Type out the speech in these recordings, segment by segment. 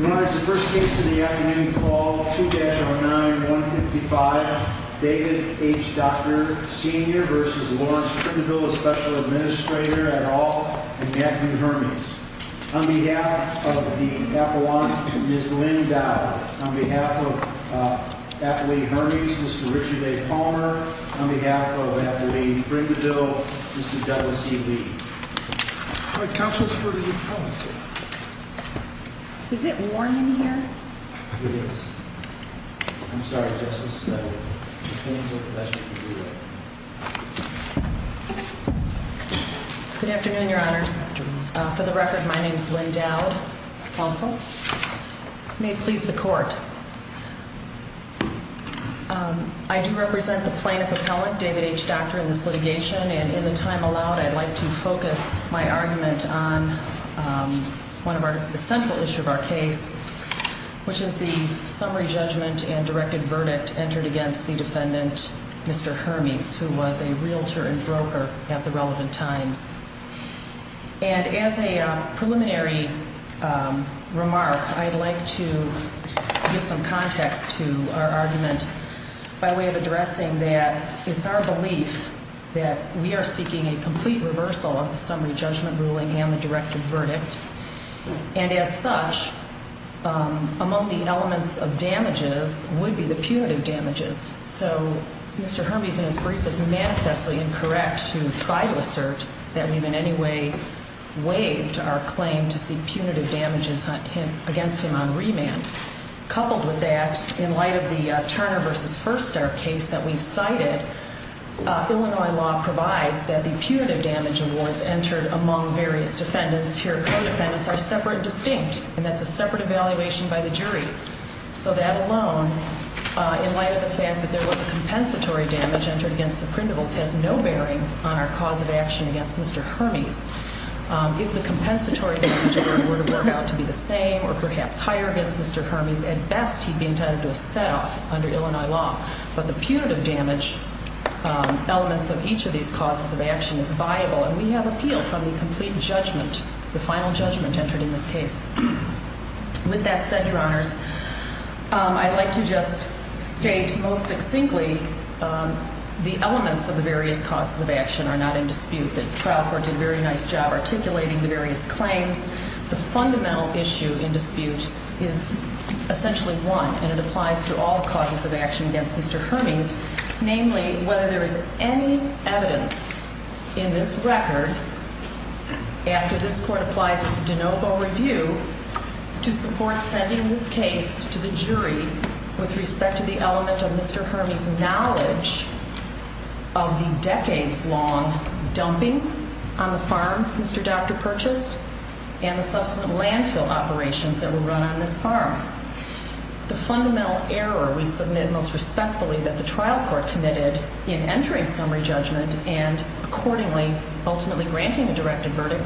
We rise to the first case of the afternoon call, 2-09-155, David H., Dr., Sr. v. Lawrence Prindaville, Special Administrator, et al., and Matthew Hermes. On behalf of the Appalachians, Ms. Lynn Dowd. On behalf of Athlete Hermes, Mr. Richard A. Palmer. On behalf of Athlete Prindaville, Mr. Douglas E. Lee. All right, counsel is for the appellant. Is it warm in here? It is. I'm sorry, Justice, but the fans are the best if you do that. Good afternoon, Your Honors. For the record, my name is Lynn Dowd, counsel. May it please the court. I do represent the plaintiff appellant, David H., Dr., in this litigation, and in the time allowed, I'd like to focus my argument on one of the central issues of our case, which is the summary judgment and directed verdict entered against the defendant, Mr. Hermes, who was a realtor and broker at the relevant times. And as a preliminary remark, I'd like to give some context to our argument by way of addressing that it's our belief that we are seeking a complete reversal of the summary judgment ruling and the directed verdict, and as such, among the elements of damages would be the punitive damages. So Mr. Hermes, in his brief, is manifestly incorrect to try to assert that we've in any way waived our claim to seek punitive damages against him on remand. Coupled with that, in light of the Turner v. Firstar case that we've cited, Illinois law provides that the punitive damage awards entered among various defendants, here co-defendants, are separate and distinct, and that's a separate evaluation by the jury. So that alone, in light of the fact that there was a compensatory damage entered against the printables, has no bearing on our cause of action against Mr. Hermes. If the compensatory damage award were to work out to be the same or perhaps higher against Mr. Hermes, at best, he'd be intended to have set off under Illinois law. But the punitive damage elements of each of these causes of action is viable, and we have appeal from the complete judgment, the final judgment entered in this case. With that said, Your Honors, I'd like to just state, most succinctly, the elements of the various causes of action are not in dispute. The trial court did a very nice job articulating the various claims. The fundamental issue in dispute is essentially one, and it applies to all causes of action against Mr. Hermes. Namely, whether there is any evidence in this record, after this court applies its de novo review, to support sending this case to the jury with respect to the element of Mr. Hermes' knowledge of the decades-long dumping on the farm Mr. Doctor purchased and the subsequent landfill operations that were run on this farm. The fundamental error we submit, most respectfully, that the trial court committed in entering summary judgment and, accordingly, ultimately granting a directive verdict,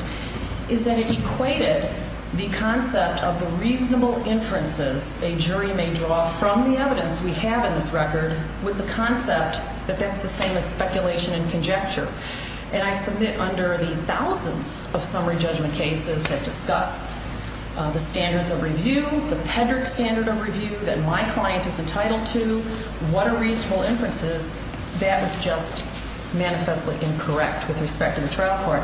is that it equated the concept of the reasonable inferences a jury may draw from the evidence we have in this record with the concept that that's the same as speculation and conjecture. And I submit under the thousands of summary judgment cases that discuss the standards of review, the PEDRC standard of review that my client is entitled to, what are reasonable inferences, that is just manifestly incorrect with respect to the trial court.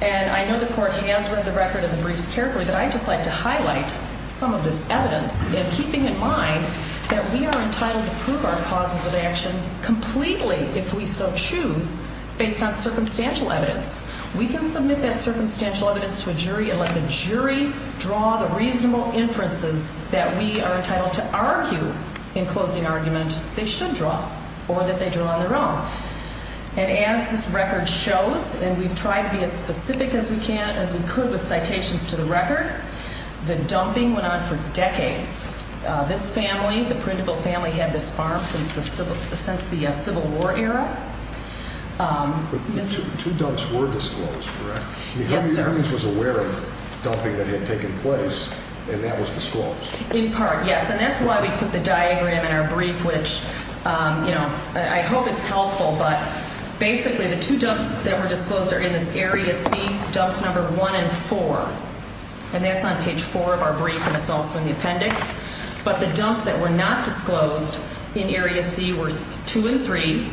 And I know the court has read the record and the briefs carefully, but I'd just like to highlight some of this evidence in keeping in mind that we are entitled to prove our causes of action completely, if we so choose, based on circumstantial evidence. We can submit that circumstantial evidence to a jury and let the jury draw the reasonable inferences that we are entitled to argue in closing argument they should draw or that they draw on their own. And as this record shows, and we've tried to be as specific as we can, as we could, with citations to the record, the dumping went on for decades. This family, the Prudential family, had this farm since the Civil War era. But two dumps were disclosed, correct? Yes, sir. I mean, Harvey Evans was aware of the dumping that had taken place, and that was disclosed. In part, yes. And that's why we put the diagram in our brief, which, you know, I hope it's helpful, but basically the two dumps that were disclosed are in this area C, dumps number 1 and 4. And that's on page 4 of our brief, and it's also in the appendix. But the dumps that were not disclosed in area C were 2 and 3,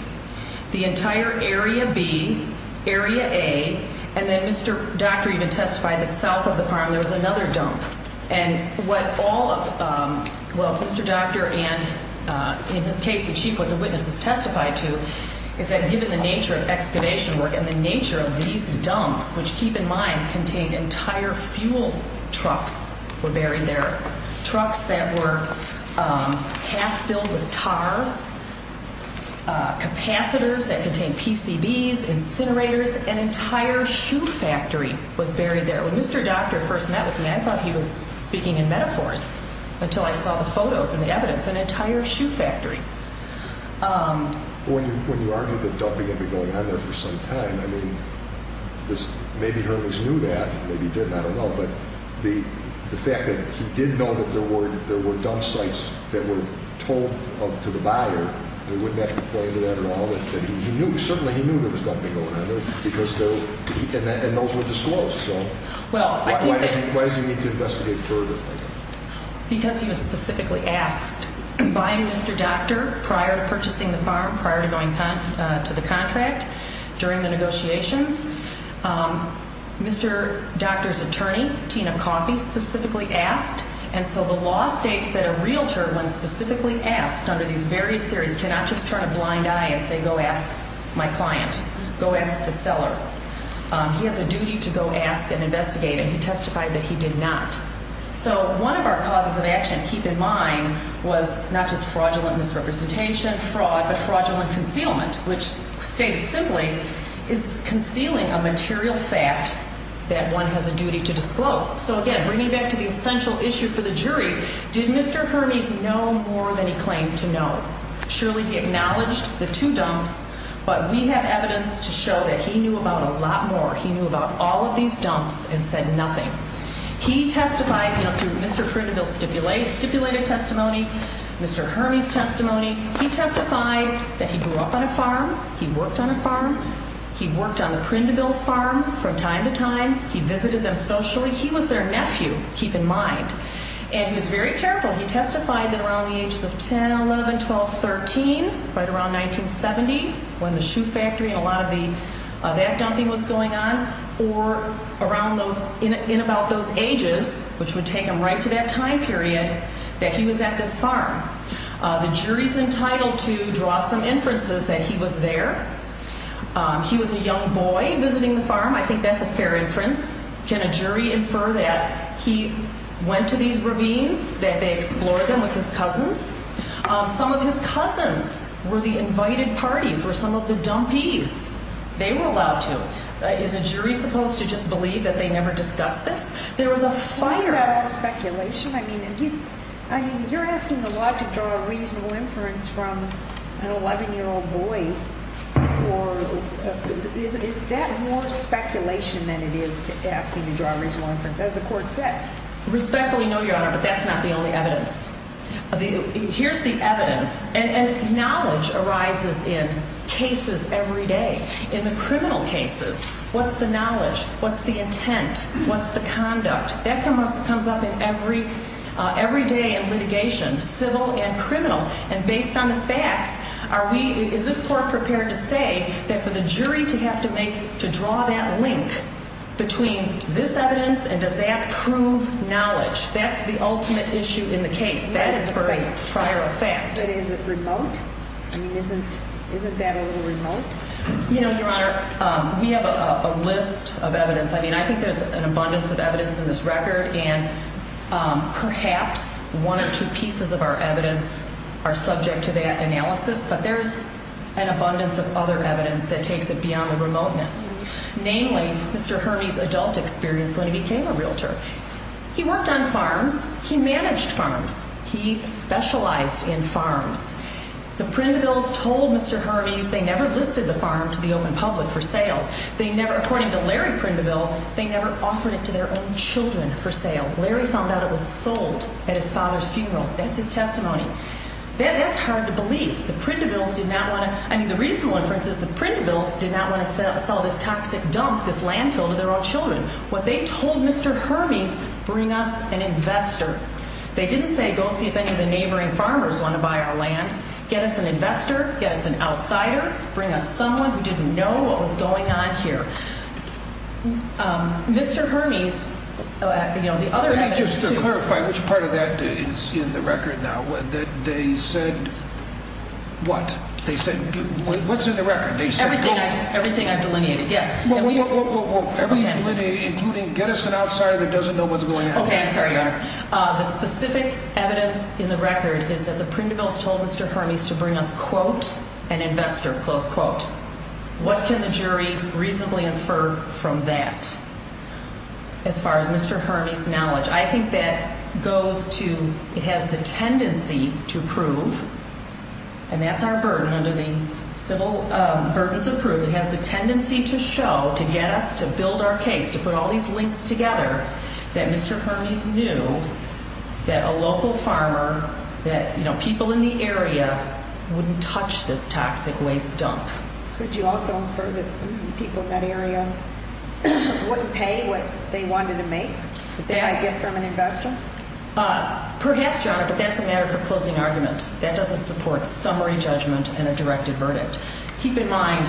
the entire area B, area A, and then Mr. Doctor even testified that south of the farm there was another dump. And what all of, well, Mr. Doctor and, in his case, the chief, what the witness has testified to is that given the nature of excavation work and the nature of these dumps, which, keep in mind, contained entire fuel trucks were buried there, trucks that were half filled with tar, capacitors that contained PCBs, incinerators, an entire shoe factory was buried there. So when Mr. Doctor first met with me, I thought he was speaking in metaphors until I saw the photos and the evidence, an entire shoe factory. When you argue that dumping had been going on there for some time, I mean, maybe Hermes knew that, maybe he didn't, I don't know. But the fact that he did know that there were dump sites that were told to the buyer, there wouldn't have to be a play to that at all. Certainly he knew there was dumping going on there, and those were disclosed. So why does he need to investigate further? Because he was specifically asked by Mr. Doctor prior to purchasing the farm, prior to going to the contract, during the negotiations. Mr. Doctor's attorney, Tina Coffey, specifically asked, and so the law states that a realtor, when specifically asked under these various theories, cannot just turn a blind eye and say, go ask my client. Go ask the seller. He has a duty to go ask and investigate, and he testified that he did not. So one of our causes of action to keep in mind was not just fraudulent misrepresentation, fraud, but fraudulent concealment, which states simply is concealing a material fact that one has a duty to disclose. So again, bringing back to the essential issue for the jury, did Mr. Hermes know more than he claimed to know? Surely he acknowledged the two dumps, but we have evidence to show that he knew about a lot more. He knew about all of these dumps and said nothing. He testified, you know, through Mr. Prindaville's stipulated testimony, Mr. Hermes' testimony. He testified that he grew up on a farm. He worked on a farm. He worked on the Prindaville's farm from time to time. He visited them socially. He was their nephew, keep in mind, and he was very careful. He testified that around the ages of 10, 11, 12, 13, right around 1970, when the shoe factory and a lot of that dumping was going on, or in about those ages, which would take him right to that time period, that he was at this farm. The jury's entitled to draw some inferences that he was there. He was a young boy visiting the farm. I think that's a fair inference. Can a jury infer that he went to these ravines, that they explored them with his cousins? Some of his cousins were the invited parties, were some of the dumpees. They were allowed to. Is a jury supposed to just believe that they never discussed this? There was a fire. Is that all speculation? I mean, you're asking the law to draw a reasonable inference from an 11-year-old boy, or is that more speculation than it is asking to draw a reasonable inference, as the court said? Respectfully, no, Your Honor, but that's not the only evidence. Here's the evidence, and knowledge arises in cases every day. In the criminal cases, what's the knowledge? What's the intent? What's the conduct? That comes up every day in litigation, civil and criminal. And based on the facts, is this court prepared to say that for the jury to have to make, to draw that link between this evidence and does that prove knowledge, that's the ultimate issue in the case. That is for a trier of fact. But is it remote? I mean, isn't that a little remote? You know, Your Honor, we have a list of evidence. I mean, I think there's an abundance of evidence in this record, and perhaps one or two pieces of our evidence are subject to that analysis, but there's an abundance of other evidence that takes it beyond the remoteness. Namely, Mr. Hermes' adult experience when he became a realtor. He worked on farms. He managed farms. He specialized in farms. The Prindevilles told Mr. Hermes they never listed the farm to the open public for sale. They never, according to Larry Prindeville, they never offered it to their own children for sale. Larry found out it was sold at his father's funeral. That's his testimony. That's hard to believe. The Prindevilles did not want to, I mean, the reasonable inference is the Prindevilles did not want to sell this toxic dump, this landfill, to their own children. What they told Mr. Hermes, bring us an investor. They didn't say go see if any of the neighboring farmers want to buy our land. Get us an investor. Get us an outsider. Bring us someone who didn't know what was going on here. Mr. Hermes, you know, the other evidence. Let me just clarify which part of that is in the record now. They said what? They said, what's in the record? Everything I've delineated, yes. Well, well, well, well, every delineated, including get us an outsider that doesn't know what's going on. The specific evidence in the record is that the Prindevilles told Mr. Hermes to bring us, quote, an investor, close quote. What can the jury reasonably infer from that? As far as Mr. Hermes' knowledge, I think that goes to, it has the tendency to prove, and that's our burden under the civil burdens of proof. It has the tendency to show, to get us to build our case, to put all these links together, that Mr. Hermes knew that a local farmer, that, you know, people in the area wouldn't touch this toxic waste dump. Could you also infer that people in that area wouldn't pay what they wanted to make? That I'd get from an investor? Perhaps, Your Honor, but that's a matter for closing argument. That doesn't support summary judgment and a directed verdict. Keep in mind,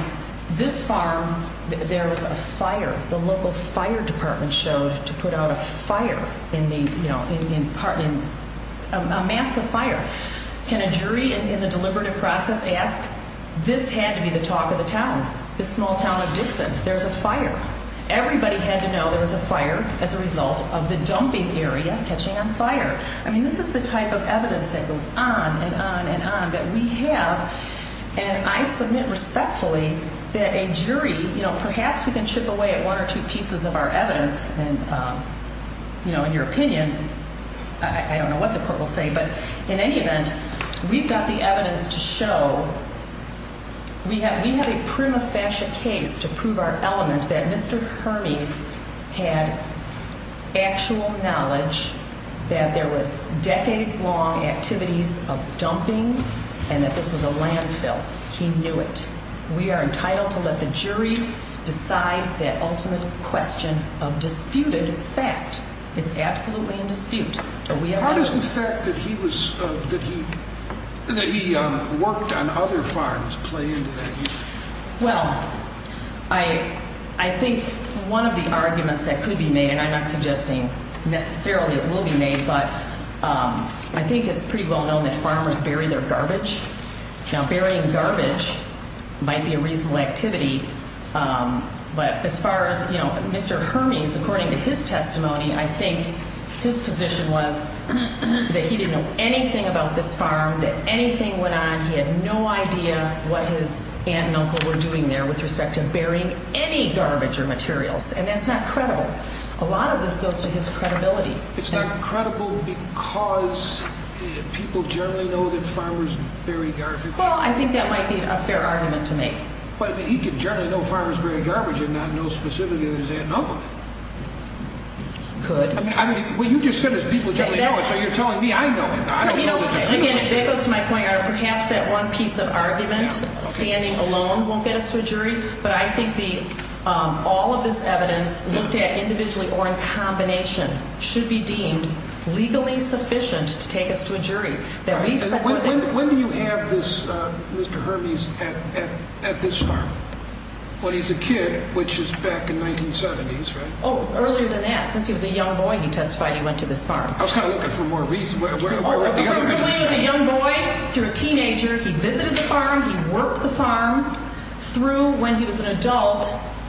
this farm, there was a fire. The local fire department showed to put out a fire in the, you know, in part, a massive fire. Can a jury in the deliberative process ask, this had to be the talk of the town, this small town of Dixon. There was a fire. Everybody had to know there was a fire as a result of the dumping area catching on fire. I mean, this is the type of evidence that goes on and on and on that we have. And I submit respectfully that a jury, you know, perhaps we can chip away at one or two pieces of our evidence and, you know, in your opinion, I don't know what the court will say. But in any event, we've got the evidence to show we have a prima facie case to prove our element that Mr. Hermes had actual knowledge that there was decades-long activities of dumping and that this was a landfill. He knew it. We are entitled to let the jury decide that ultimate question of disputed fact. It's absolutely in dispute. How does the fact that he worked on other farms play into that? Well, I think one of the arguments that could be made, and I'm not suggesting necessarily it will be made, but I think it's pretty well known that farmers bury their garbage. Now, burying garbage might be a reasonable activity, but as far as, you know, Mr. Hermes, according to his testimony, I think his position was that he didn't know anything about this farm, that anything went on. He had no idea what his aunt and uncle were doing there with respect to burying any garbage or materials, and that's not credible. A lot of this goes to his credibility. It's not credible because people generally know that farmers bury garbage? Well, I think that might be a fair argument to make. But he could generally know farmers bury garbage and not know specifically that his aunt and uncle did. He could. I mean, what you just said is people generally know it, so you're telling me I know it. Again, if that goes to my point, perhaps that one piece of argument, standing alone, won't get us to a jury, but I think all of this evidence looked at individually or in combination should be deemed legally sufficient to take us to a jury. When do you have this, Mr. Hermes, at this farm? When he's a kid, which is back in 1970s, right? Oh, earlier than that. Since he was a young boy, he testified he went to this farm. I was kind of looking for more reason. From when he was a young boy through a teenager, he visited the farm, he worked the farm, through when he was an adult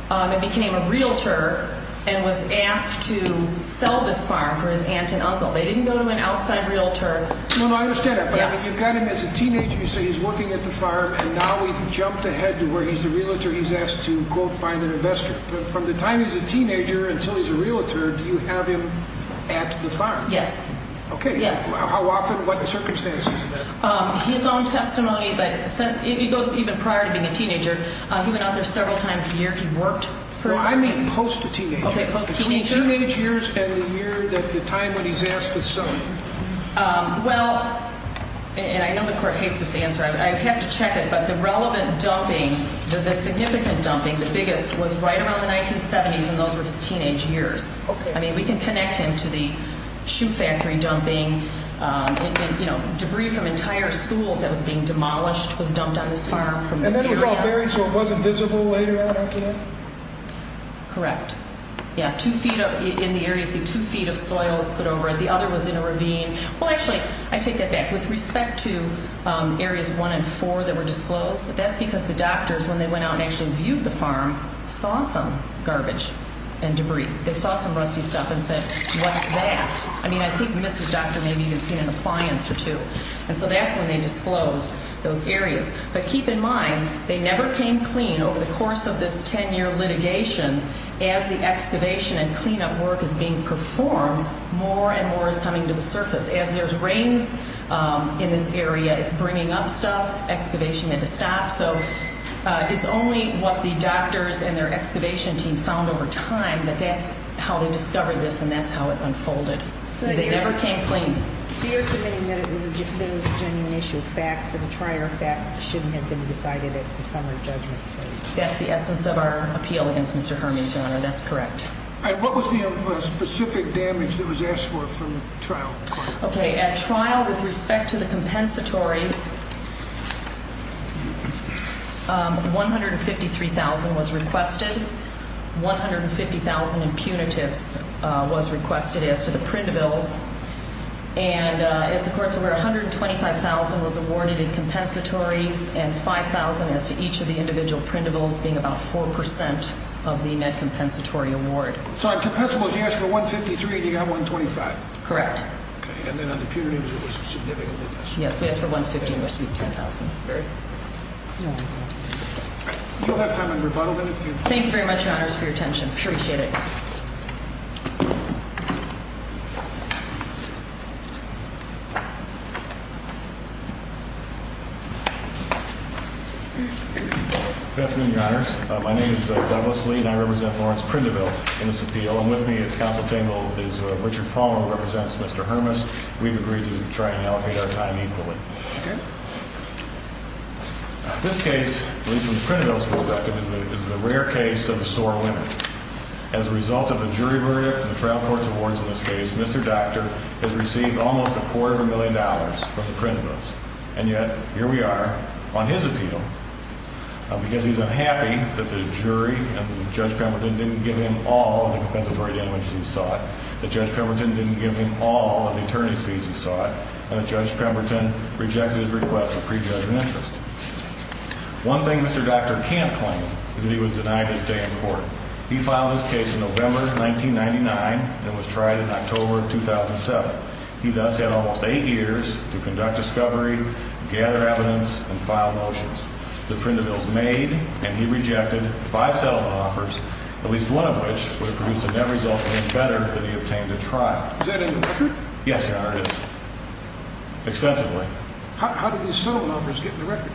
and became a realtor and was asked to sell this farm for his aunt and uncle. They didn't go to an outside realtor. No, no, I understand that, but you've got him as a teenager. You say he's working at the farm, and now we've jumped ahead to where he's a realtor. He's asked to, quote, find an investor. From the time he's a teenager until he's a realtor, do you have him at the farm? Yes. Okay. Yes. How often? What circumstances? His own testimony, but it goes even prior to being a teenager. He went out there several times a year. He worked for his family. Well, I mean post-teenager. Okay, post-teenager. Between teenage years and the year that the time when he's asked to sell. Well, and I know the court hates this answer. I have to check it, but the relevant dumping, the significant dumping, the biggest, was right around the 1970s, and those were his teenage years. Okay. I mean, we can connect him to the shoe factory dumping. You know, debris from entire schools that was being demolished was dumped on this farm from the area. And then it was all buried, so it wasn't visible later on after that? Correct. Yeah, two feet in the area, see, two feet of soil was put over it. The other was in a ravine. Well, actually, I take that back. With respect to areas one and four that were disclosed, that's because the doctors, when they went out and actually viewed the farm, saw some garbage and debris. They saw some rusty stuff and said, what's that? I mean, I think Mrs. Docter maybe even seen an appliance or two. And so that's when they disclosed those areas. But keep in mind, they never came clean over the course of this 10-year litigation. As the excavation and cleanup work is being performed, more and more is coming to the surface. As there's rains in this area, it's bringing up stuff. Excavation had to stop. So it's only what the doctors and their excavation team found over time that that's how they discovered this and that's how it unfolded. They never came clean. So you're submitting that it was a genuine issue, a fact, that a trial fact shouldn't have been decided at the summary judgment? That's the essence of our appeal against Mr. Herman, Your Honor. That's correct. And what was the specific damage that was asked for from the trial? Okay. At trial, with respect to the compensatories, $153,000 was requested. $150,000 in punitives was requested as to the printables. And as the court's aware, $125,000 was awarded in compensatories and $5,000 as to each of the individual printables being about 4% of the net compensatory award. So on compensables, you asked for $153,000. Do you have $125,000? Correct. Okay. And then on the punitives, it was significant? Yes. We asked for $150,000 and received $10,000. Very good. You'll have time in rebuttal then. Thank you very much, Your Honors, for your attention. Appreciate it. Good afternoon, Your Honors. My name is Douglas Lee, and I represent Lawrence Printable in this appeal. And with me at counsel table is Richard Palmer, who represents Mr. Hermas. We've agreed to try and allocate our time equally. Okay. This case, at least from the printables perspective, is the rare case of a SOAR winner. As a result of a jury verdict and the trial court's awards in this case, Mr. Docter has received almost a quarter of a million dollars from the printables. And yet, here we are on his appeal, because he's unhappy that the jury and Judge Pemberton didn't give him all of the compensatory damages he sought, that Judge Pemberton didn't give him all of the attorney's fees he sought, and that Judge Pemberton rejected his request for prejudgment interest. One thing Mr. Docter can't claim is that he was denied his day in court. He filed this case in November 1999 and was tried in October 2007. He thus had almost eight years to conduct discovery, gather evidence, and file motions. The printables made, and he rejected, five settlement offers, at least one of which would have produced a net result even better than he obtained at trial. Is that in the record? Yes, Your Honor, it is. Extensively. How did these settlement offers get in the record?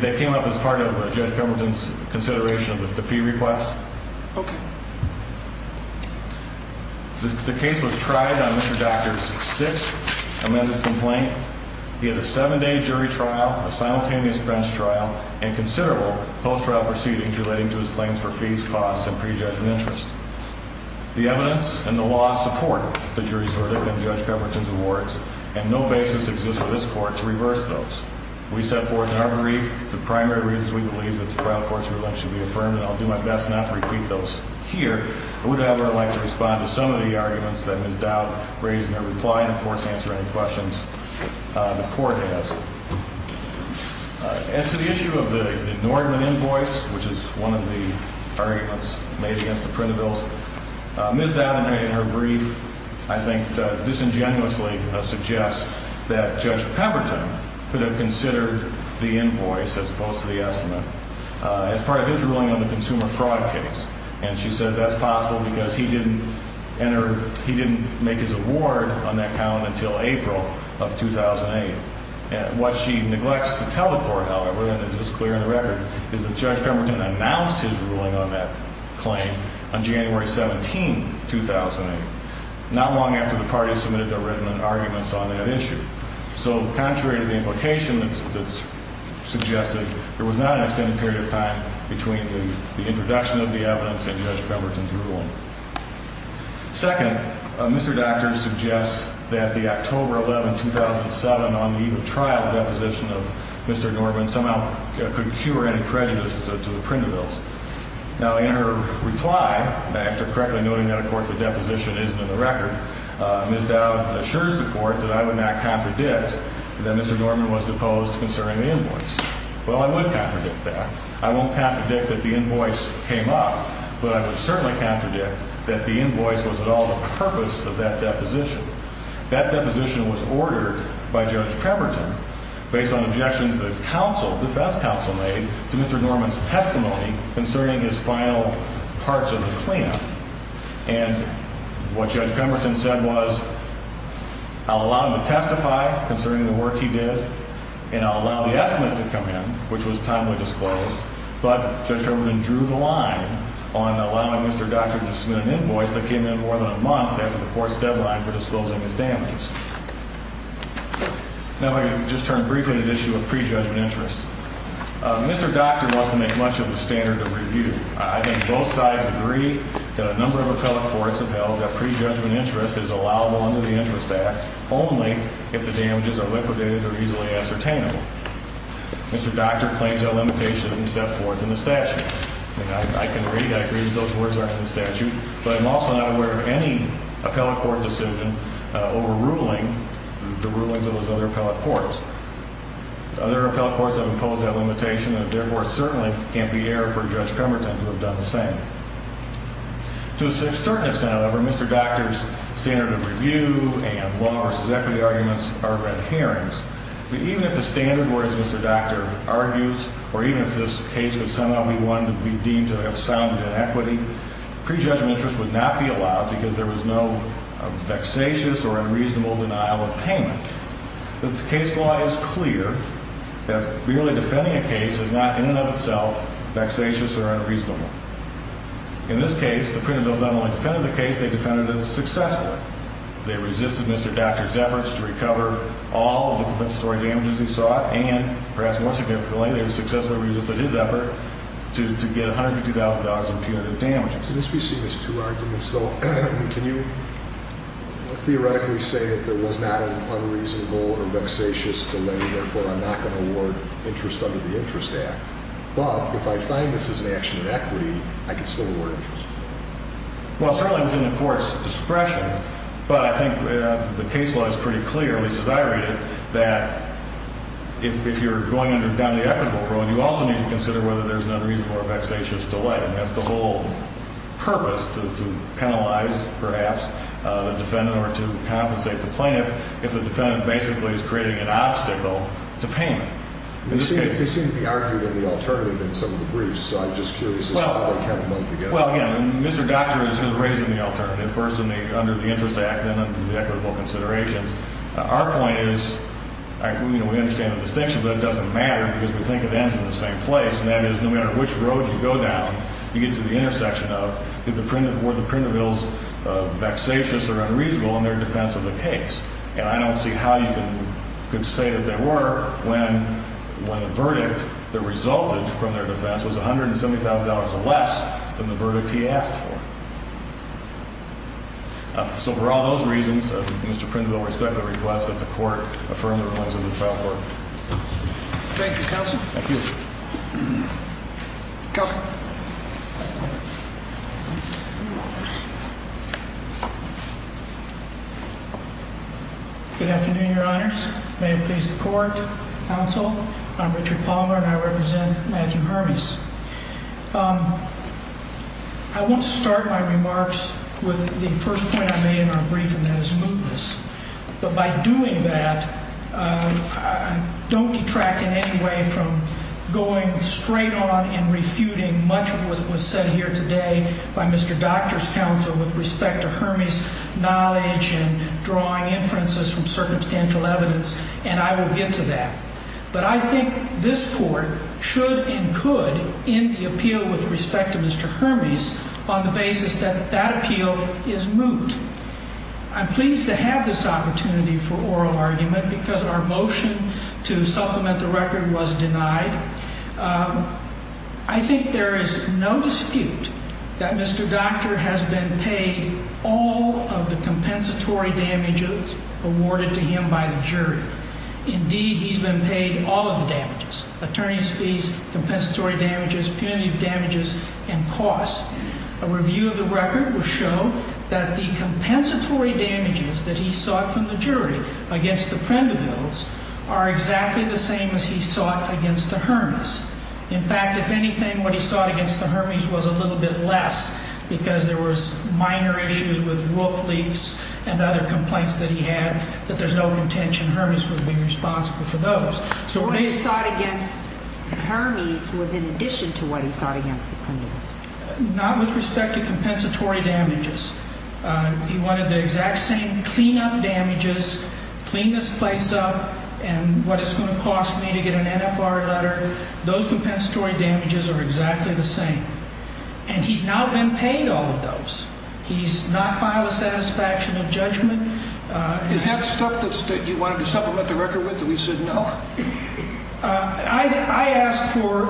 They came up as part of Judge Pemberton's consideration of the fee request. Okay. The case was tried on Mr. Docter's sixth amended complaint. He had a seven-day jury trial, a simultaneous bench trial, and considerable post-trial proceedings relating to his claims for fees, costs, and prejudgment interest. The evidence and the law support the jury's verdict in Judge Pemberton's words, and no basis exists for this court to reverse those. We set forth in our brief the primary reasons we believe that the trial court's ruling should be affirmed, and I'll do my best not to repeat those here. I would, however, like to respond to some of the arguments that Ms. Dowd raised in her reply and, of course, answer any questions the court has. As to the issue of the Nordman invoice, which is one of the arguments made against the printed bills, Ms. Dowd in her brief, I think, disingenuously suggests that Judge Pemberton could have considered the invoice as opposed to the estimate as part of his ruling on the consumer fraud case. And she says that's possible because he didn't make his award on that column until April of 2008. What she neglects to tell the court, however, and it's just clear in the record, is that Judge Pemberton announced his ruling on that claim on January 17, 2008, not long after the parties submitted their written arguments on that issue. So, contrary to the implication that's suggested, there was not an extended period of time between the introduction of the evidence and Judge Pemberton's ruling. Second, Mr. Docter suggests that the October 11, 2007, on the eve of trial, deposition of Mr. Nordman somehow could cure any prejudice to the printed bills. Now, in her reply, after correctly noting that, of course, the deposition isn't in the record, Ms. Dowd assures the court that I would not contradict that Mr. Nordman was deposed concerning the invoice. Well, I would contradict that. I won't contradict that the invoice came up, but I would certainly contradict that the invoice was at all the purpose of that deposition. That deposition was ordered by Judge Pemberton based on objections the defense counsel made to Mr. Nordman's testimony concerning his final parts of the claim. And what Judge Pemberton said was, I'll allow him to testify concerning the work he did, and I'll allow the estimate to come in, which was timely disclosed. But Judge Pemberton drew the line on allowing Mr. Docter to submit an invoice that came in more than a month after the court's deadline for disclosing his damages. Now, if I could just turn briefly to the issue of prejudgment interest. Mr. Docter wants to make much of the standard of review. I think both sides agree that a number of appellate courts have held that prejudgment interest is allowable under the Interest Act only if the damages are liquidated or easily ascertainable. Mr. Docter claims that limitation isn't set forth in the statute. I can agree, I agree that those words aren't in the statute, but I'm also not aware of any appellate court decision overruling the rulings of those other appellate courts. Other appellate courts have imposed that limitation, and therefore it certainly can't be error for Judge Pemberton to have done the same. To a certain extent, however, Mr. Docter's standard of review and law versus equity arguments are read hearings. Even if the standard were, as Mr. Docter argues, or even if this case would somehow be deemed to have sounded in equity, prejudgment interest would not be allowed because there was no vexatious or unreasonable denial of payment. The case law is clear that merely defending a case is not in and of itself vexatious or unreasonable. In this case, the printer does not only defend the case, they defended it successfully. They resisted Mr. Docter's efforts to recover all of the compensatory damages he sought, and perhaps more significantly, they successfully resisted his effort to get $102,000 in punitive damages. Can this be seen as two arguments, though? Can you theoretically say that there was not an unreasonable or vexatious delay, and therefore I'm not going to award interest under the Interest Act? Bob, if I find this is an action in equity, I can still award interest. Well, certainly within the court's discretion, but I think the case law is pretty clear, at least as I read it, that if you're going down the ethical road, you also need to consider whether there's an unreasonable or vexatious delay. And that's the whole purpose to penalize, perhaps, the defendant or to compensate the plaintiff if the defendant basically is creating an obstacle to payment. They seem to be arguing the alternative in some of the briefs, so I'm just curious as to how they come about together. Well, again, Mr. Docter is raising the alternative first under the Interest Act and then under the equitable considerations. Our point is we understand the distinction, but it doesn't matter because we think it ends in the same place, and that is no matter which road you go down, you get to the intersection of were the printer bills vexatious or unreasonable in their defense of the case. And I don't see how you could say that they were when the verdict that resulted from their defense was $170,000 less than the verdict he asked for. So for all those reasons, Mr. Prindle, I respectfully request that the court affirm the rulings of the trial court. Thank you, counsel. Thank you. Counsel. Good afternoon, Your Honors. May it please the court, counsel. I'm Richard Palmer, and I represent Matthew Hermes. I want to start my remarks with the first point I made in our briefing, and that is mootness. But by doing that, don't detract in any way from going straight on and refuting much of what was said here today by Mr. Docter's counsel with respect to Hermes' knowledge and drawing inferences from circumstantial evidence, and I will get to that. But I think this court should and could end the appeal with respect to Mr. Hermes on the basis that that appeal is moot. I'm pleased to have this opportunity for oral argument because our motion to supplement the record was denied. I think there is no dispute that Mr. Docter has been paid all of the compensatory damages awarded to him by the jury. Indeed, he's been paid all of the damages, attorney's fees, compensatory damages, punitive damages, and costs. A review of the record will show that the compensatory damages that he sought from the jury against the Prendervilles are exactly the same as he sought against the Hermes. In fact, if anything, what he sought against the Hermes was a little bit less because there was minor issues with roof leaks and other complaints that he had that there's no contention Hermes would be responsible for those. So what he sought against the Hermes was in addition to what he sought against the Prendervilles. Not with respect to compensatory damages. He wanted the exact same clean-up damages, clean this place up, and what it's going to cost me to get an NFR letter. Those compensatory damages are exactly the same. And he's not been paid all of those. He's not filed a satisfaction of judgment. Is that stuff that you wanted to supplement the record with that we said no? I asked for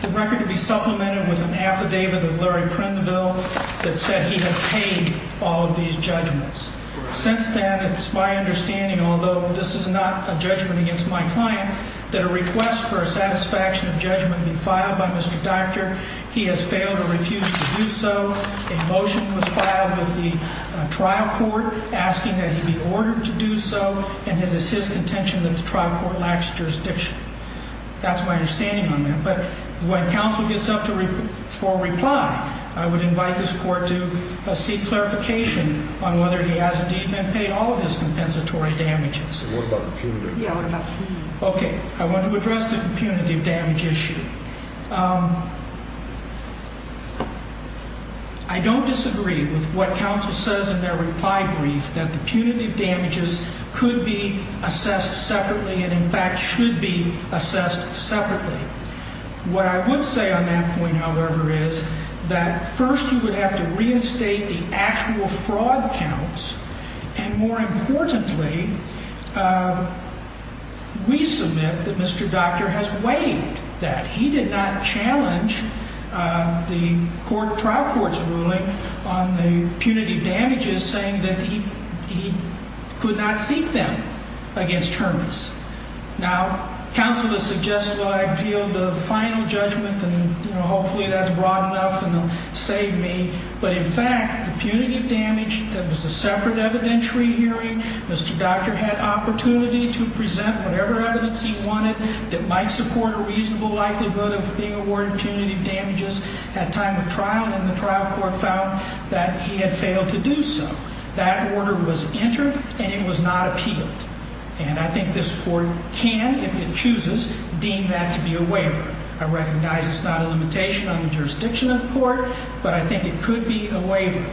the record to be supplemented with an affidavit of Larry Prenderville that said he had paid all of these judgments. Since then, it's my understanding, although this is not a judgment against my client, that a request for a satisfaction of judgment be filed by Mr. Doctor. He has failed to refuse to do so. A motion was filed with the trial court asking that he be ordered to do so, and it is his contention that the trial court lacks jurisdiction. That's my understanding on that. But when counsel gets up for reply, I would invite this court to seek clarification on whether he has indeed been paid all of his compensatory damages. What about the punitive damages? Okay. I want to address the punitive damage issue. I don't disagree with what counsel says in their reply brief, that the punitive damages could be assessed separately and, in fact, should be assessed separately. What I would say on that point, however, is that first you would have to reinstate the actual fraud counts. And more importantly, we submit that Mr. Doctor has waived that. He did not challenge the trial court's ruling on the punitive damages, saying that he could not seek them against Hermanns. Now, counsel has suggested that I appeal the final judgment, and hopefully that's broad enough and will save me. But, in fact, the punitive damage that was a separate evidentiary hearing, Mr. Doctor had opportunity to present whatever evidence he wanted that might support a reasonable likelihood of being awarded punitive damages at time of trial, and the trial court found that he had failed to do so. That order was entered, and it was not appealed. And I think this court can, if it chooses, deem that to be a waiver. I recognize it's not a limitation on the jurisdiction of the court, but I think it could be a waiver.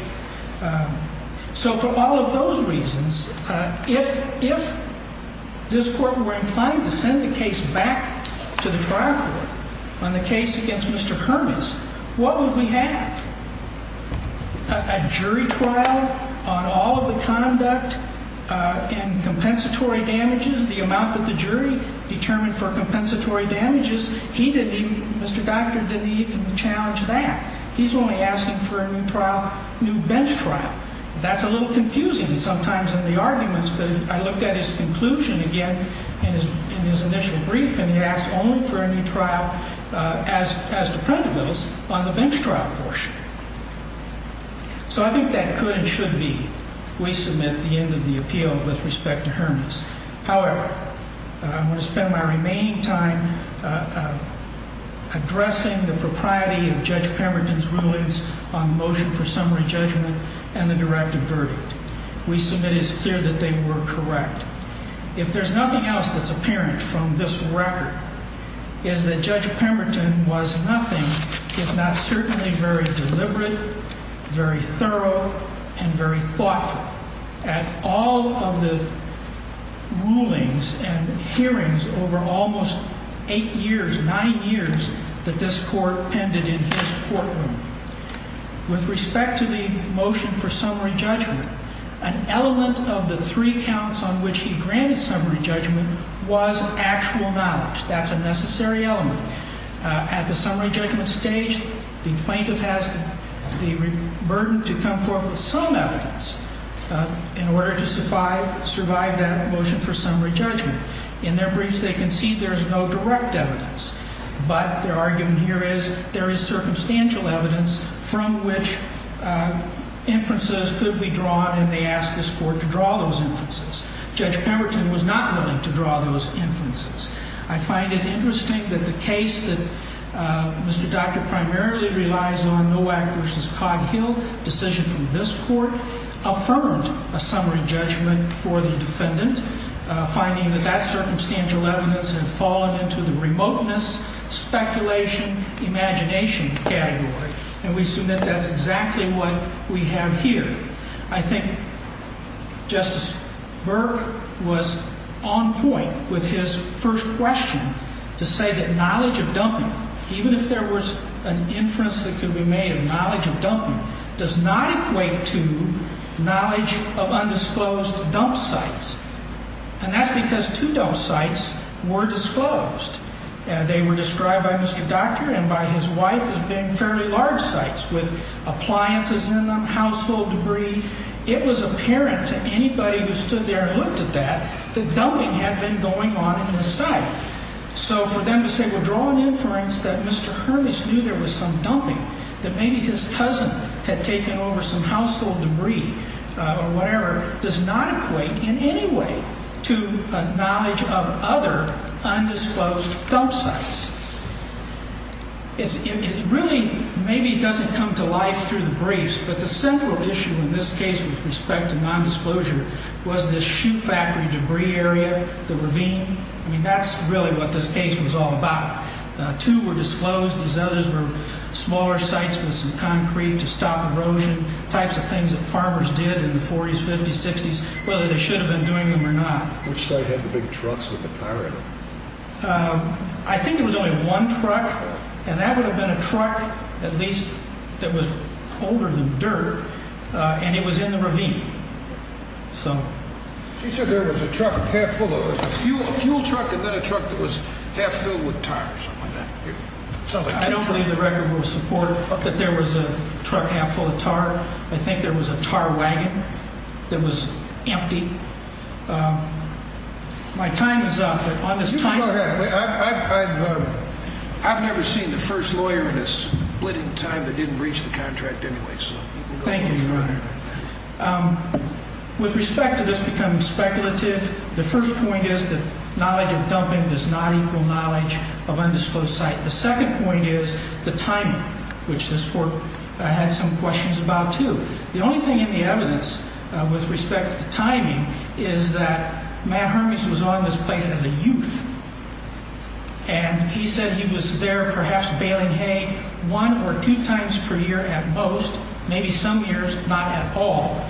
So for all of those reasons, if this court were inclined to send the case back to the trial court on the case against Mr. Hermanns, what would we have? A jury trial on all of the conduct and compensatory damages? The amount that the jury determined for compensatory damages, he didn't even, Mr. Doctor didn't even challenge that. He's only asking for a new trial, new bench trial. That's a little confusing sometimes in the arguments, but I looked at his conclusion again in his initial brief, and he asked only for a new trial as to print those on the bench trial portion. So I think that could and should be. We submit the end of the appeal with respect to Hermanns. However, I'm going to spend my remaining time addressing the propriety of Judge Pemberton's rulings on motion for summary judgment and the directive verdict. We submit it's clear that they were correct. If there's nothing else that's apparent from this record is that Judge Pemberton was nothing, if not certainly very deliberate, very thorough and very thoughtful at all of the rulings and hearings over almost eight years, nine years that this court ended in his courtroom. With respect to the motion for summary judgment, an element of the three counts on which he granted summary judgment was actual knowledge. That's a necessary element. At the summary judgment stage, the plaintiff has the burden to come forth with some evidence in order to survive that motion for summary judgment. In their brief, they concede there's no direct evidence, but their argument here is there is circumstantial evidence from which inferences could be drawn, and they ask this court to draw those inferences. Judge Pemberton was not willing to draw those inferences. I find it interesting that the case that Mr. Doctor primarily relies on, Nowak v. Coghill, decision from this court, affirmed a summary judgment for the defendant, finding that that circumstantial evidence had fallen into the remoteness, speculation, imagination category. And we submit that's exactly what we have here. I think Justice Burke was on point with his first question to say that knowledge of dumping, even if there was an inference that could be made of knowledge of dumping, does not equate to knowledge of undisclosed dump sites. And that's because two dump sites were disclosed. They were described by Mr. Doctor and by his wife as being fairly large sites with appliances in them, household debris. It was apparent to anybody who stood there and looked at that that dumping had been going on in the site. So for them to say, well, draw an inference that Mr. Hermes knew there was some dumping, that maybe his cousin had taken over some household debris or whatever, does not equate in any way to knowledge of other undisclosed dump sites. It really maybe doesn't come to life through the briefs, but the central issue in this case with respect to nondisclosure was this shoe factory debris area, the ravine. I mean, that's really what this case was all about. Two were disclosed. These others were smaller sites with some concrete to stop erosion, types of things that farmers did in the 40s, 50s, 60s, whether they should have been doing them or not. Which site had the big trucks with the tire in them? I think it was only one truck, and that would have been a truck at least that was older than dirt, and it was in the ravine. She said there was a truck half full of fuel, a fuel truck, and then a truck that was half filled with tires. I don't believe the record will support that there was a truck half full of tar. I think there was a tar wagon that was empty. My time is up. You can go ahead. I've never seen the first lawyer in a splitting time that didn't reach the contract anyway, so you can go ahead. Thank you, Your Honor. With respect to this becoming speculative, the first point is that knowledge of dumping does not equal knowledge of undisclosed site. The second point is the timing, which this court had some questions about, too. The only thing in the evidence with respect to timing is that Matt Hermes was on this place as a youth, and he said he was there perhaps baling hay one or two times per year at most, maybe some years not at all,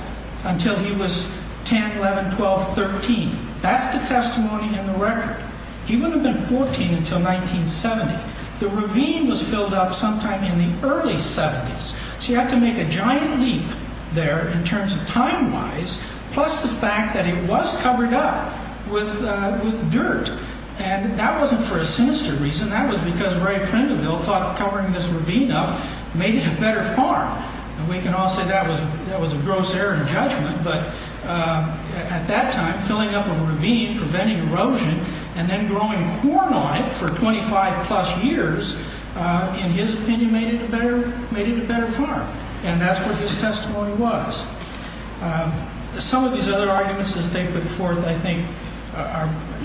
until he was 10, 11, 12, 13. That's the testimony in the record. He wouldn't have been 14 until 1970. The ravine was filled up sometime in the early 70s. So you have to make a giant leap there in terms of time-wise, plus the fact that it was covered up with dirt. And that wasn't for a sinister reason. That was because Ray Prindleville thought covering this ravine up made it a better farm. And we can all say that was a gross error in judgment. But at that time, filling up a ravine, preventing erosion, and then growing corn on it for 25-plus years, in his opinion, made it a better farm. And that's what his testimony was. Some of these other arguments that they put forth, I think,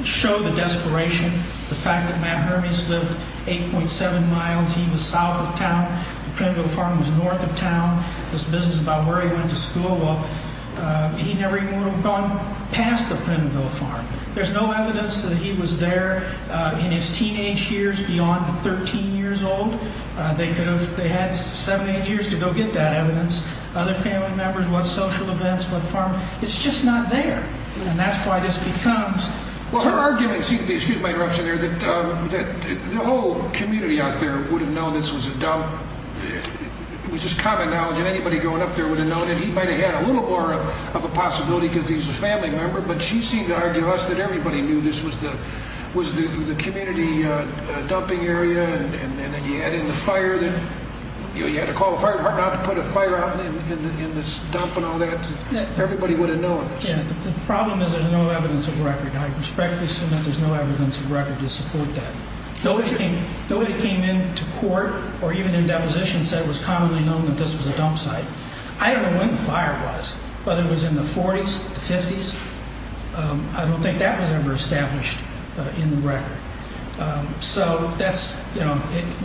show the desperation, the fact that Matt Hermes lived 8.7 miles. He was south of town. The Prindleville farm was north of town. This business about where he went to school, well, he never even would have gone past the Prindleville farm. There's no evidence that he was there in his teenage years beyond 13 years old. They had seven, eight years to go get that evidence. Other family members, what social events, what farm. It's just not there. And that's why this becomes terrible. Their argument seemed to be, excuse my interruption there, that the whole community out there would have known this was a dump. It was just common knowledge, and anybody growing up there would have known it. He might have had a little more of a possibility because he's a family member. But she seemed to argue with us that everybody knew this was the community dumping area. And then you had in the fire, you had to call the fire department out to put a fire out in this dump and all that. Everybody would have known this. The problem is there's no evidence of record. I respectfully submit there's no evidence of record to support that. Nobody that came into court or even in depositions said it was commonly known that this was a dump site. I don't know when the fire was, but it was in the 40s, 50s. I don't think that was ever established in the record. So that's, you know,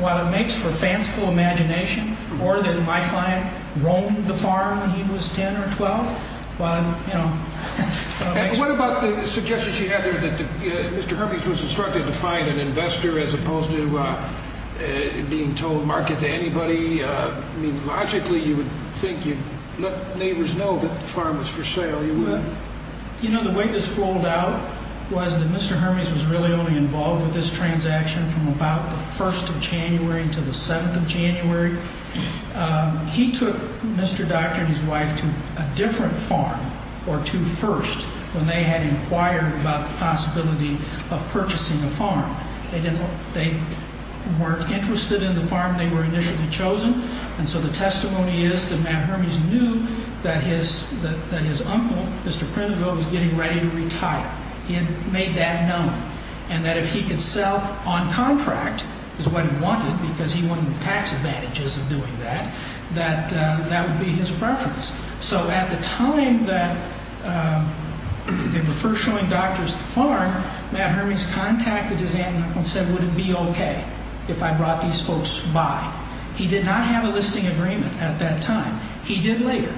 what it makes for fanciful imagination, or that my client roamed the farm when he was 10 or 12. What about the suggestions you had there that Mr. Hermes was instructed to find an investor as opposed to being told market to anybody? I mean, logically, you would think you'd let neighbors know that the farm was for sale. You wouldn't. You know, the way this rolled out was that Mr. Hermes was really only involved with this transaction from about the 1st of January until the 7th of January. He took Mr. Doctor and his wife to a different farm, or to First, when they had inquired about the possibility of purchasing a farm. They weren't interested in the farm. They were initially chosen. And so the testimony is that Matt Hermes knew that his uncle, Mr. Prineville, was getting ready to retire. He had made that known. And that if he could sell on contract, which is what he wanted, because he wanted the tax advantages of doing that, that that would be his preference. So at the time that they were first showing doctors the farm, Matt Hermes contacted his aunt and uncle and said, would it be okay if I brought these folks by? He did not have a listing agreement at that time. He did later.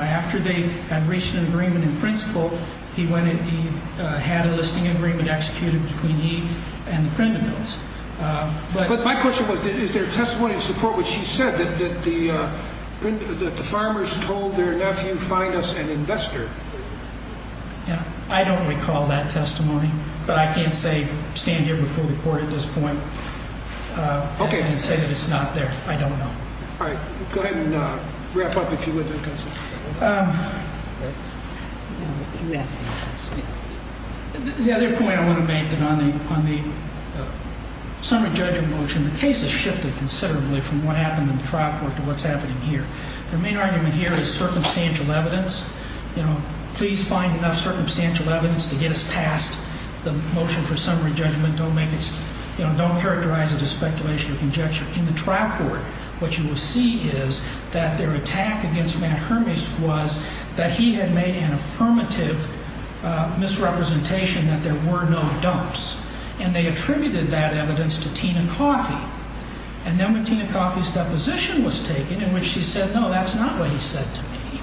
After they had reached an agreement in principle, he had a listing agreement executed between he and the Prinevilles. But my question was, is there testimony to support what she said, that the farmers told their nephew, find us an investor? I don't recall that testimony. But I can't say, stand here before the court at this point and say that it's not there. I don't know. All right. Go ahead and wrap up if you would. The other point I want to make on the summary judgment motion, the case has shifted considerably from what happened in the trial court to what's happening here. The main argument here is circumstantial evidence. Please find enough circumstantial evidence to get us past the motion for summary judgment. Don't characterize it as speculation or conjecture. What you will see is that their attack against Matt Hermes was that he had made an affirmative misrepresentation that there were no dumps. And they attributed that evidence to Tina Coffey. And then when Tina Coffey's deposition was taken in which she said, no, that's not what he said to me,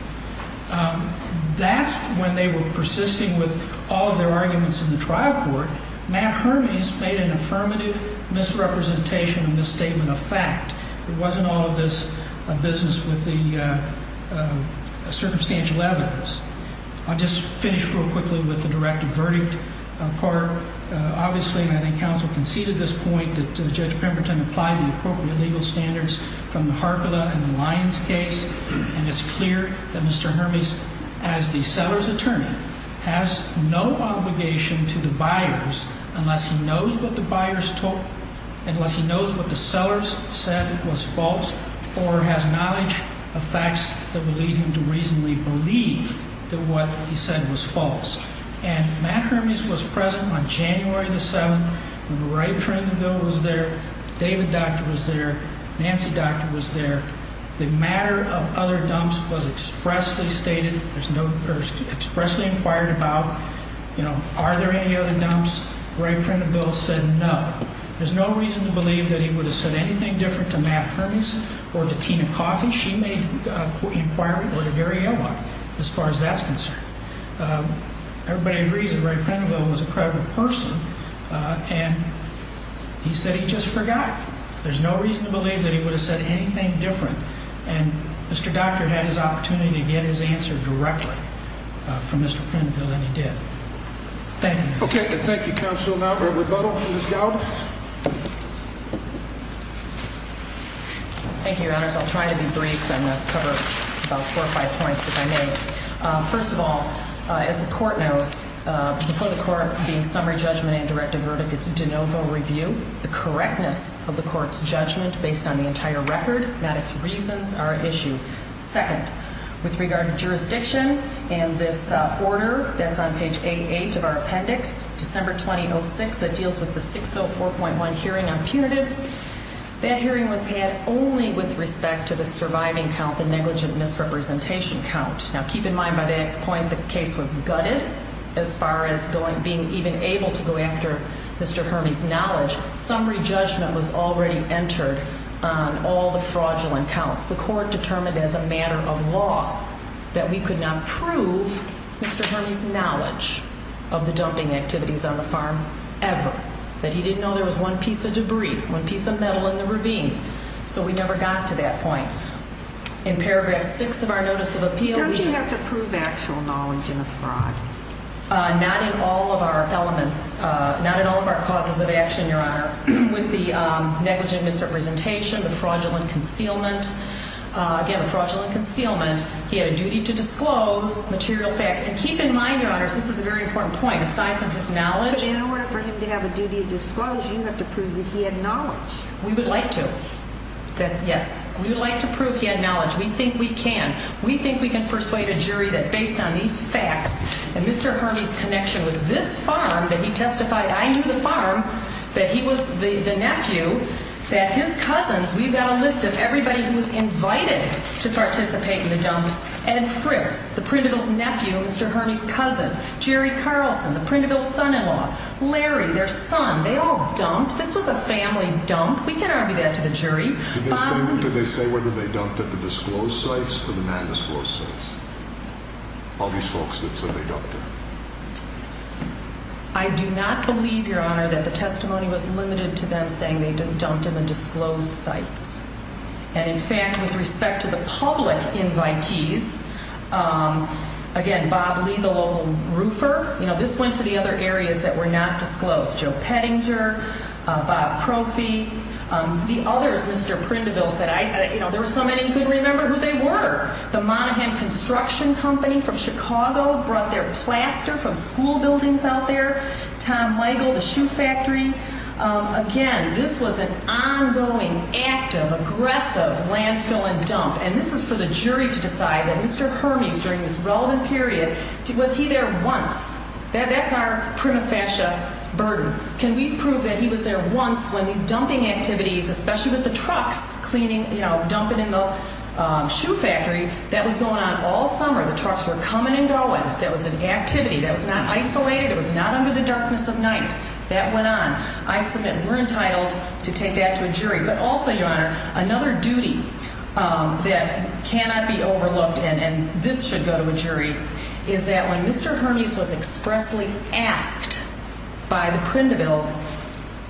that's when they were persisting with all of their arguments in the trial court. Matt Hermes made an affirmative misrepresentation in this statement of fact. It wasn't all of this business with the circumstantial evidence. I'll just finish real quickly with the directive verdict part. Obviously, I think counsel conceded this point that Judge Pemberton applied the appropriate legal standards from the Harkala and the Lyons case. And it's clear that Mr. Hermes, as the seller's attorney, has no obligation to the buyers unless he knows what the buyers told, unless he knows what the sellers said was false or has knowledge of facts that would lead him to reasonably believe that what he said was false. And Matt Hermes was present on January the 7th. Ray Pringleville was there. David Docter was there. Nancy Docter was there. The matter of other dumps was expressly stated. There's no – or expressly inquired about, you know, are there any other dumps. Ray Pringleville said no. There's no reason to believe that he would have said anything different to Matt Hermes or to Tina Coffey. She made the inquiry or to Gary Elwok as far as that's concerned. Everybody agrees that Ray Pringleville was a credible person. And he said he just forgot. There's no reason to believe that he would have said anything different. And Mr. Docter had his opportunity to get his answer directly from Mr. Pringleville, and he did. Thank you. Okay. Thank you, counsel. Now for rebuttal, Ms. Galbraith. Thank you, Your Honors. I'll try to be brief. I'm going to cover about four or five points, if I may. First of all, as the court knows, before the court being summary judgment and directed verdict, it's a de novo review. The correctness of the court's judgment based on the entire record, not its reasons, are at issue. Second, with regard to jurisdiction and this order that's on page 88 of our appendix, December 2006, that deals with the 604.1 hearing on punitives, that hearing was had only with respect to the surviving count, the negligent misrepresentation count. Now, keep in mind by that point the case was gutted as far as being even able to go after Mr. Hermey's knowledge. Summary judgment was already entered on all the fraudulent counts. The court determined as a matter of law that we could not prove Mr. Hermey's knowledge of the dumping activities on the farm ever, that he didn't know there was one piece of debris, one piece of metal in the ravine. So we never got to that point. In paragraph six of our notice of appeal, we- Don't you have to prove actual knowledge in a fraud? Not in all of our elements. Not in all of our causes of action, Your Honor. With the negligent misrepresentation, the fraudulent concealment. Again, the fraudulent concealment, he had a duty to disclose material facts. And keep in mind, Your Honors, this is a very important point. Aside from his knowledge- But in order for him to have a duty to disclose, you have to prove that he had knowledge. We would like to. That, yes, we would like to prove he had knowledge. We think we can. We think we can persuade a jury that based on these facts and Mr. Hermey's connection with this farm, that he testified, I knew the farm, that he was the nephew, that his cousins, we've got a list of everybody who was invited to participate in the dumps. Ed Fritz, the Printerville's nephew, Mr. Hermey's cousin. Jerry Carlson, the Printerville's son-in-law. Larry, their son. They all dumped. This was a family dump. We can argue that to the jury. Did they say whether they dumped at the disclosed sites or the non-disclosed sites? All these folks that said they dumped it. I do not believe, Your Honor, that the testimony was limited to them saying they dumped in the disclosed sites. And, in fact, with respect to the public invitees, again, Bob Lee, the local roofer, you know, this went to the other areas that were not disclosed. Joe Pettinger, Bob Crophy. The others, Mr. Printerville said, you know, there were so many you couldn't remember who they were. The Monaghan Construction Company from Chicago brought their plaster from school buildings out there. Tom Weigel, the shoe factory. Again, this was an ongoing, active, aggressive landfill and dump. And this is for the jury to decide that Mr. Hermes, during this relevant period, was he there once? That's our prima facie burden. Can we prove that he was there once when these dumping activities, especially with the trucks cleaning, you know, dumping in the shoe factory, that was going on all summer? The trucks were coming and going. That was an activity. That was not isolated. It was not under the darkness of night. I submit we're entitled to take that to a jury. But also, Your Honor, another duty that cannot be overlooked, and this should go to a jury, is that when Mr. Hermes was expressly asked by the Printervilles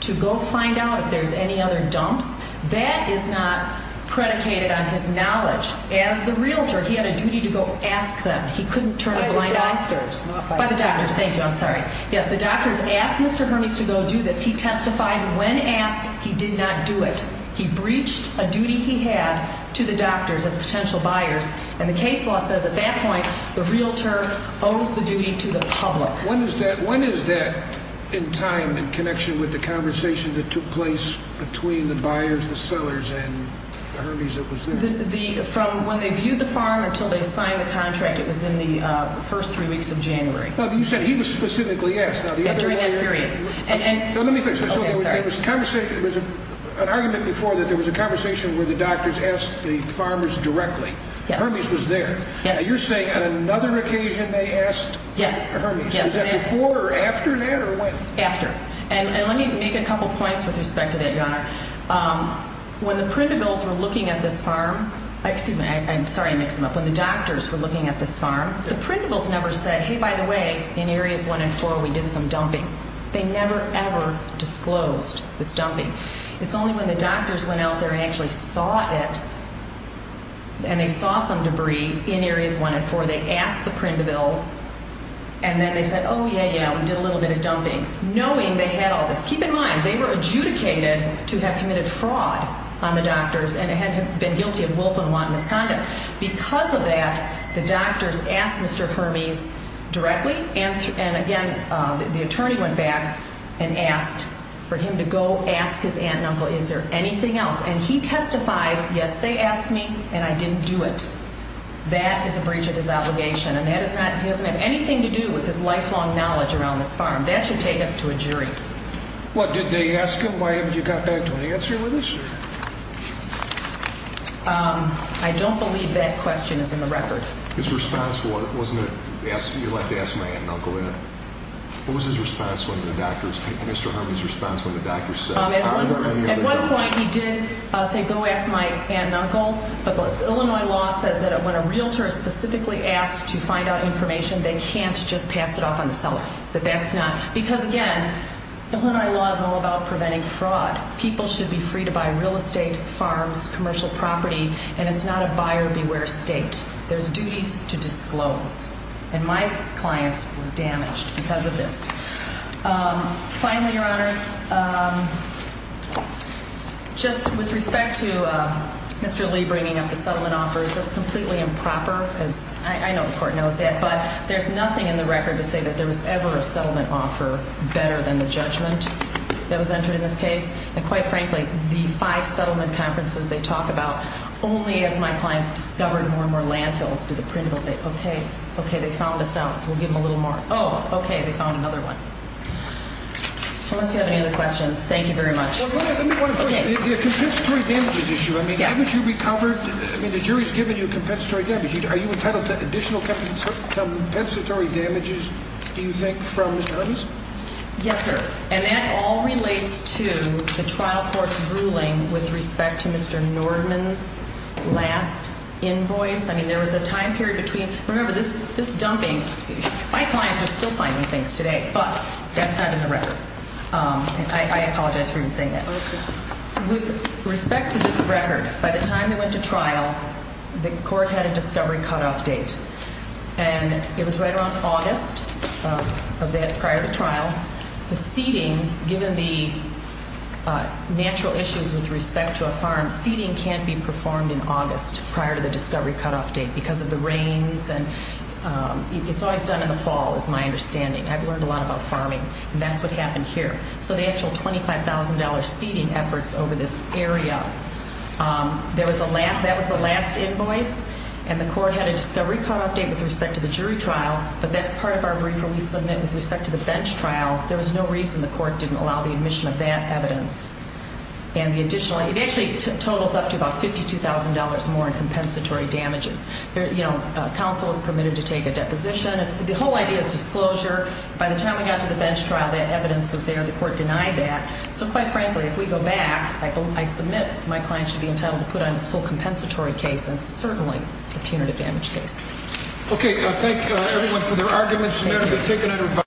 to go find out if there's any other dumps, that is not predicated on his knowledge. As the realtor, he had a duty to go ask them. He couldn't turn a blind eye. By the doctors. By the doctors. Thank you. I'm sorry. Yes, the doctors asked Mr. Hermes to go do this. He testified. When asked, he did not do it. He breached a duty he had to the doctors as potential buyers. And the case law says at that point the realtor owes the duty to the public. When is that in time in connection with the conversation that took place between the buyers, the sellers, and Hermes that was there? From when they viewed the farm until they signed the contract. It was in the first three weeks of January. You said he was specifically asked. During that period. Let me fix this. There was an argument before that there was a conversation where the doctors asked the farmers directly. Hermes was there. You're saying on another occasion they asked Hermes. Yes. Was that before or after that or when? After. And let me make a couple points with respect to that, Your Honor. When the Printervilles were looking at this farm. Excuse me. I'm sorry I mixed them up. When the doctors were looking at this farm, the Printervilles never said, hey, by the way, in areas one and four we did some dumping. They never, ever disclosed this dumping. It's only when the doctors went out there and actually saw it and they saw some debris in areas one and four. They asked the Printervilles and then they said, oh, yeah, yeah, we did a little bit of dumping. Knowing they had all this. Keep in mind, they were adjudicated to have committed fraud on the doctors and had been guilty of willful and wanton misconduct. Because of that, the doctors asked Mr. Hermes directly. And again, the attorney went back and asked for him to go ask his aunt and uncle, is there anything else? And he testified, yes, they asked me and I didn't do it. That is a breach of his obligation. And that is not, he doesn't have anything to do with his lifelong knowledge around this farm. That should take us to a jury. What, did they ask him why haven't you got back to an answer with us? I don't believe that question is in the record. His response was, wasn't it, you'd like to ask my aunt and uncle, isn't it? What was his response when the doctors, Mr. Hermes' response when the doctors said. At one point he did say, go ask my aunt and uncle. But the Illinois law says that when a realtor is specifically asked to find out information, they can't just pass it off on the seller. But that's not, because again, Illinois law is all about preventing fraud. People should be free to buy real estate, farms, commercial property, and it's not a buyer beware state. There's duties to disclose. And my clients were damaged because of this. Finally, Your Honors, just with respect to Mr. Lee bringing up the settlement offers, that's completely improper. I know the court knows that, but there's nothing in the record to say that there was ever a settlement offer better than the judgment that was entered in this case. And quite frankly, the five settlement conferences they talk about only as my clients discovered more and more landfills to the print. They'll say, okay, okay, they found this out. We'll give them a little more. Oh, okay, they found another one. Unless you have any other questions, thank you very much. Let me ask you a question. The compensatory damages issue. I mean, haven't you recovered? I mean, the jury's given you a compensatory damage. Are you entitled to additional compensatory damages, do you think, from Mr. Hermes? Yes, sir. And that all relates to the trial court's ruling with respect to Mr. Norman's last invoice. I mean, there was a time period between. Remember, this dumping, my clients are still finding things today, but that's not in the record. I apologize for even saying that. With respect to this record, by the time they went to trial, the court had a discovery cutoff date. And it was right around August of that prior to trial. The seeding, given the natural issues with respect to a farm, seeding can't be performed in August prior to the discovery cutoff date because of the rains. And it's always done in the fall is my understanding. I've learned a lot about farming, and that's what happened here. So the actual $25,000 seeding efforts over this area, that was the last invoice, and the court had a discovery cutoff date with respect to the jury trial, but that's part of our brief where we submit with respect to the bench trial. There was no reason the court didn't allow the admission of that evidence. And the additional, it actually totals up to about $52,000 more in compensatory damages. You know, counsel is permitted to take a deposition. The whole idea is disclosure. By the time we got to the bench trial, that evidence was there. The court denied that. So quite frankly, if we go back, I submit my client should be entitled to put on this full compensatory case, and certainly a punitive damage case. Okay. Thank you, everyone, for their arguments. You're going to be taken under advisory.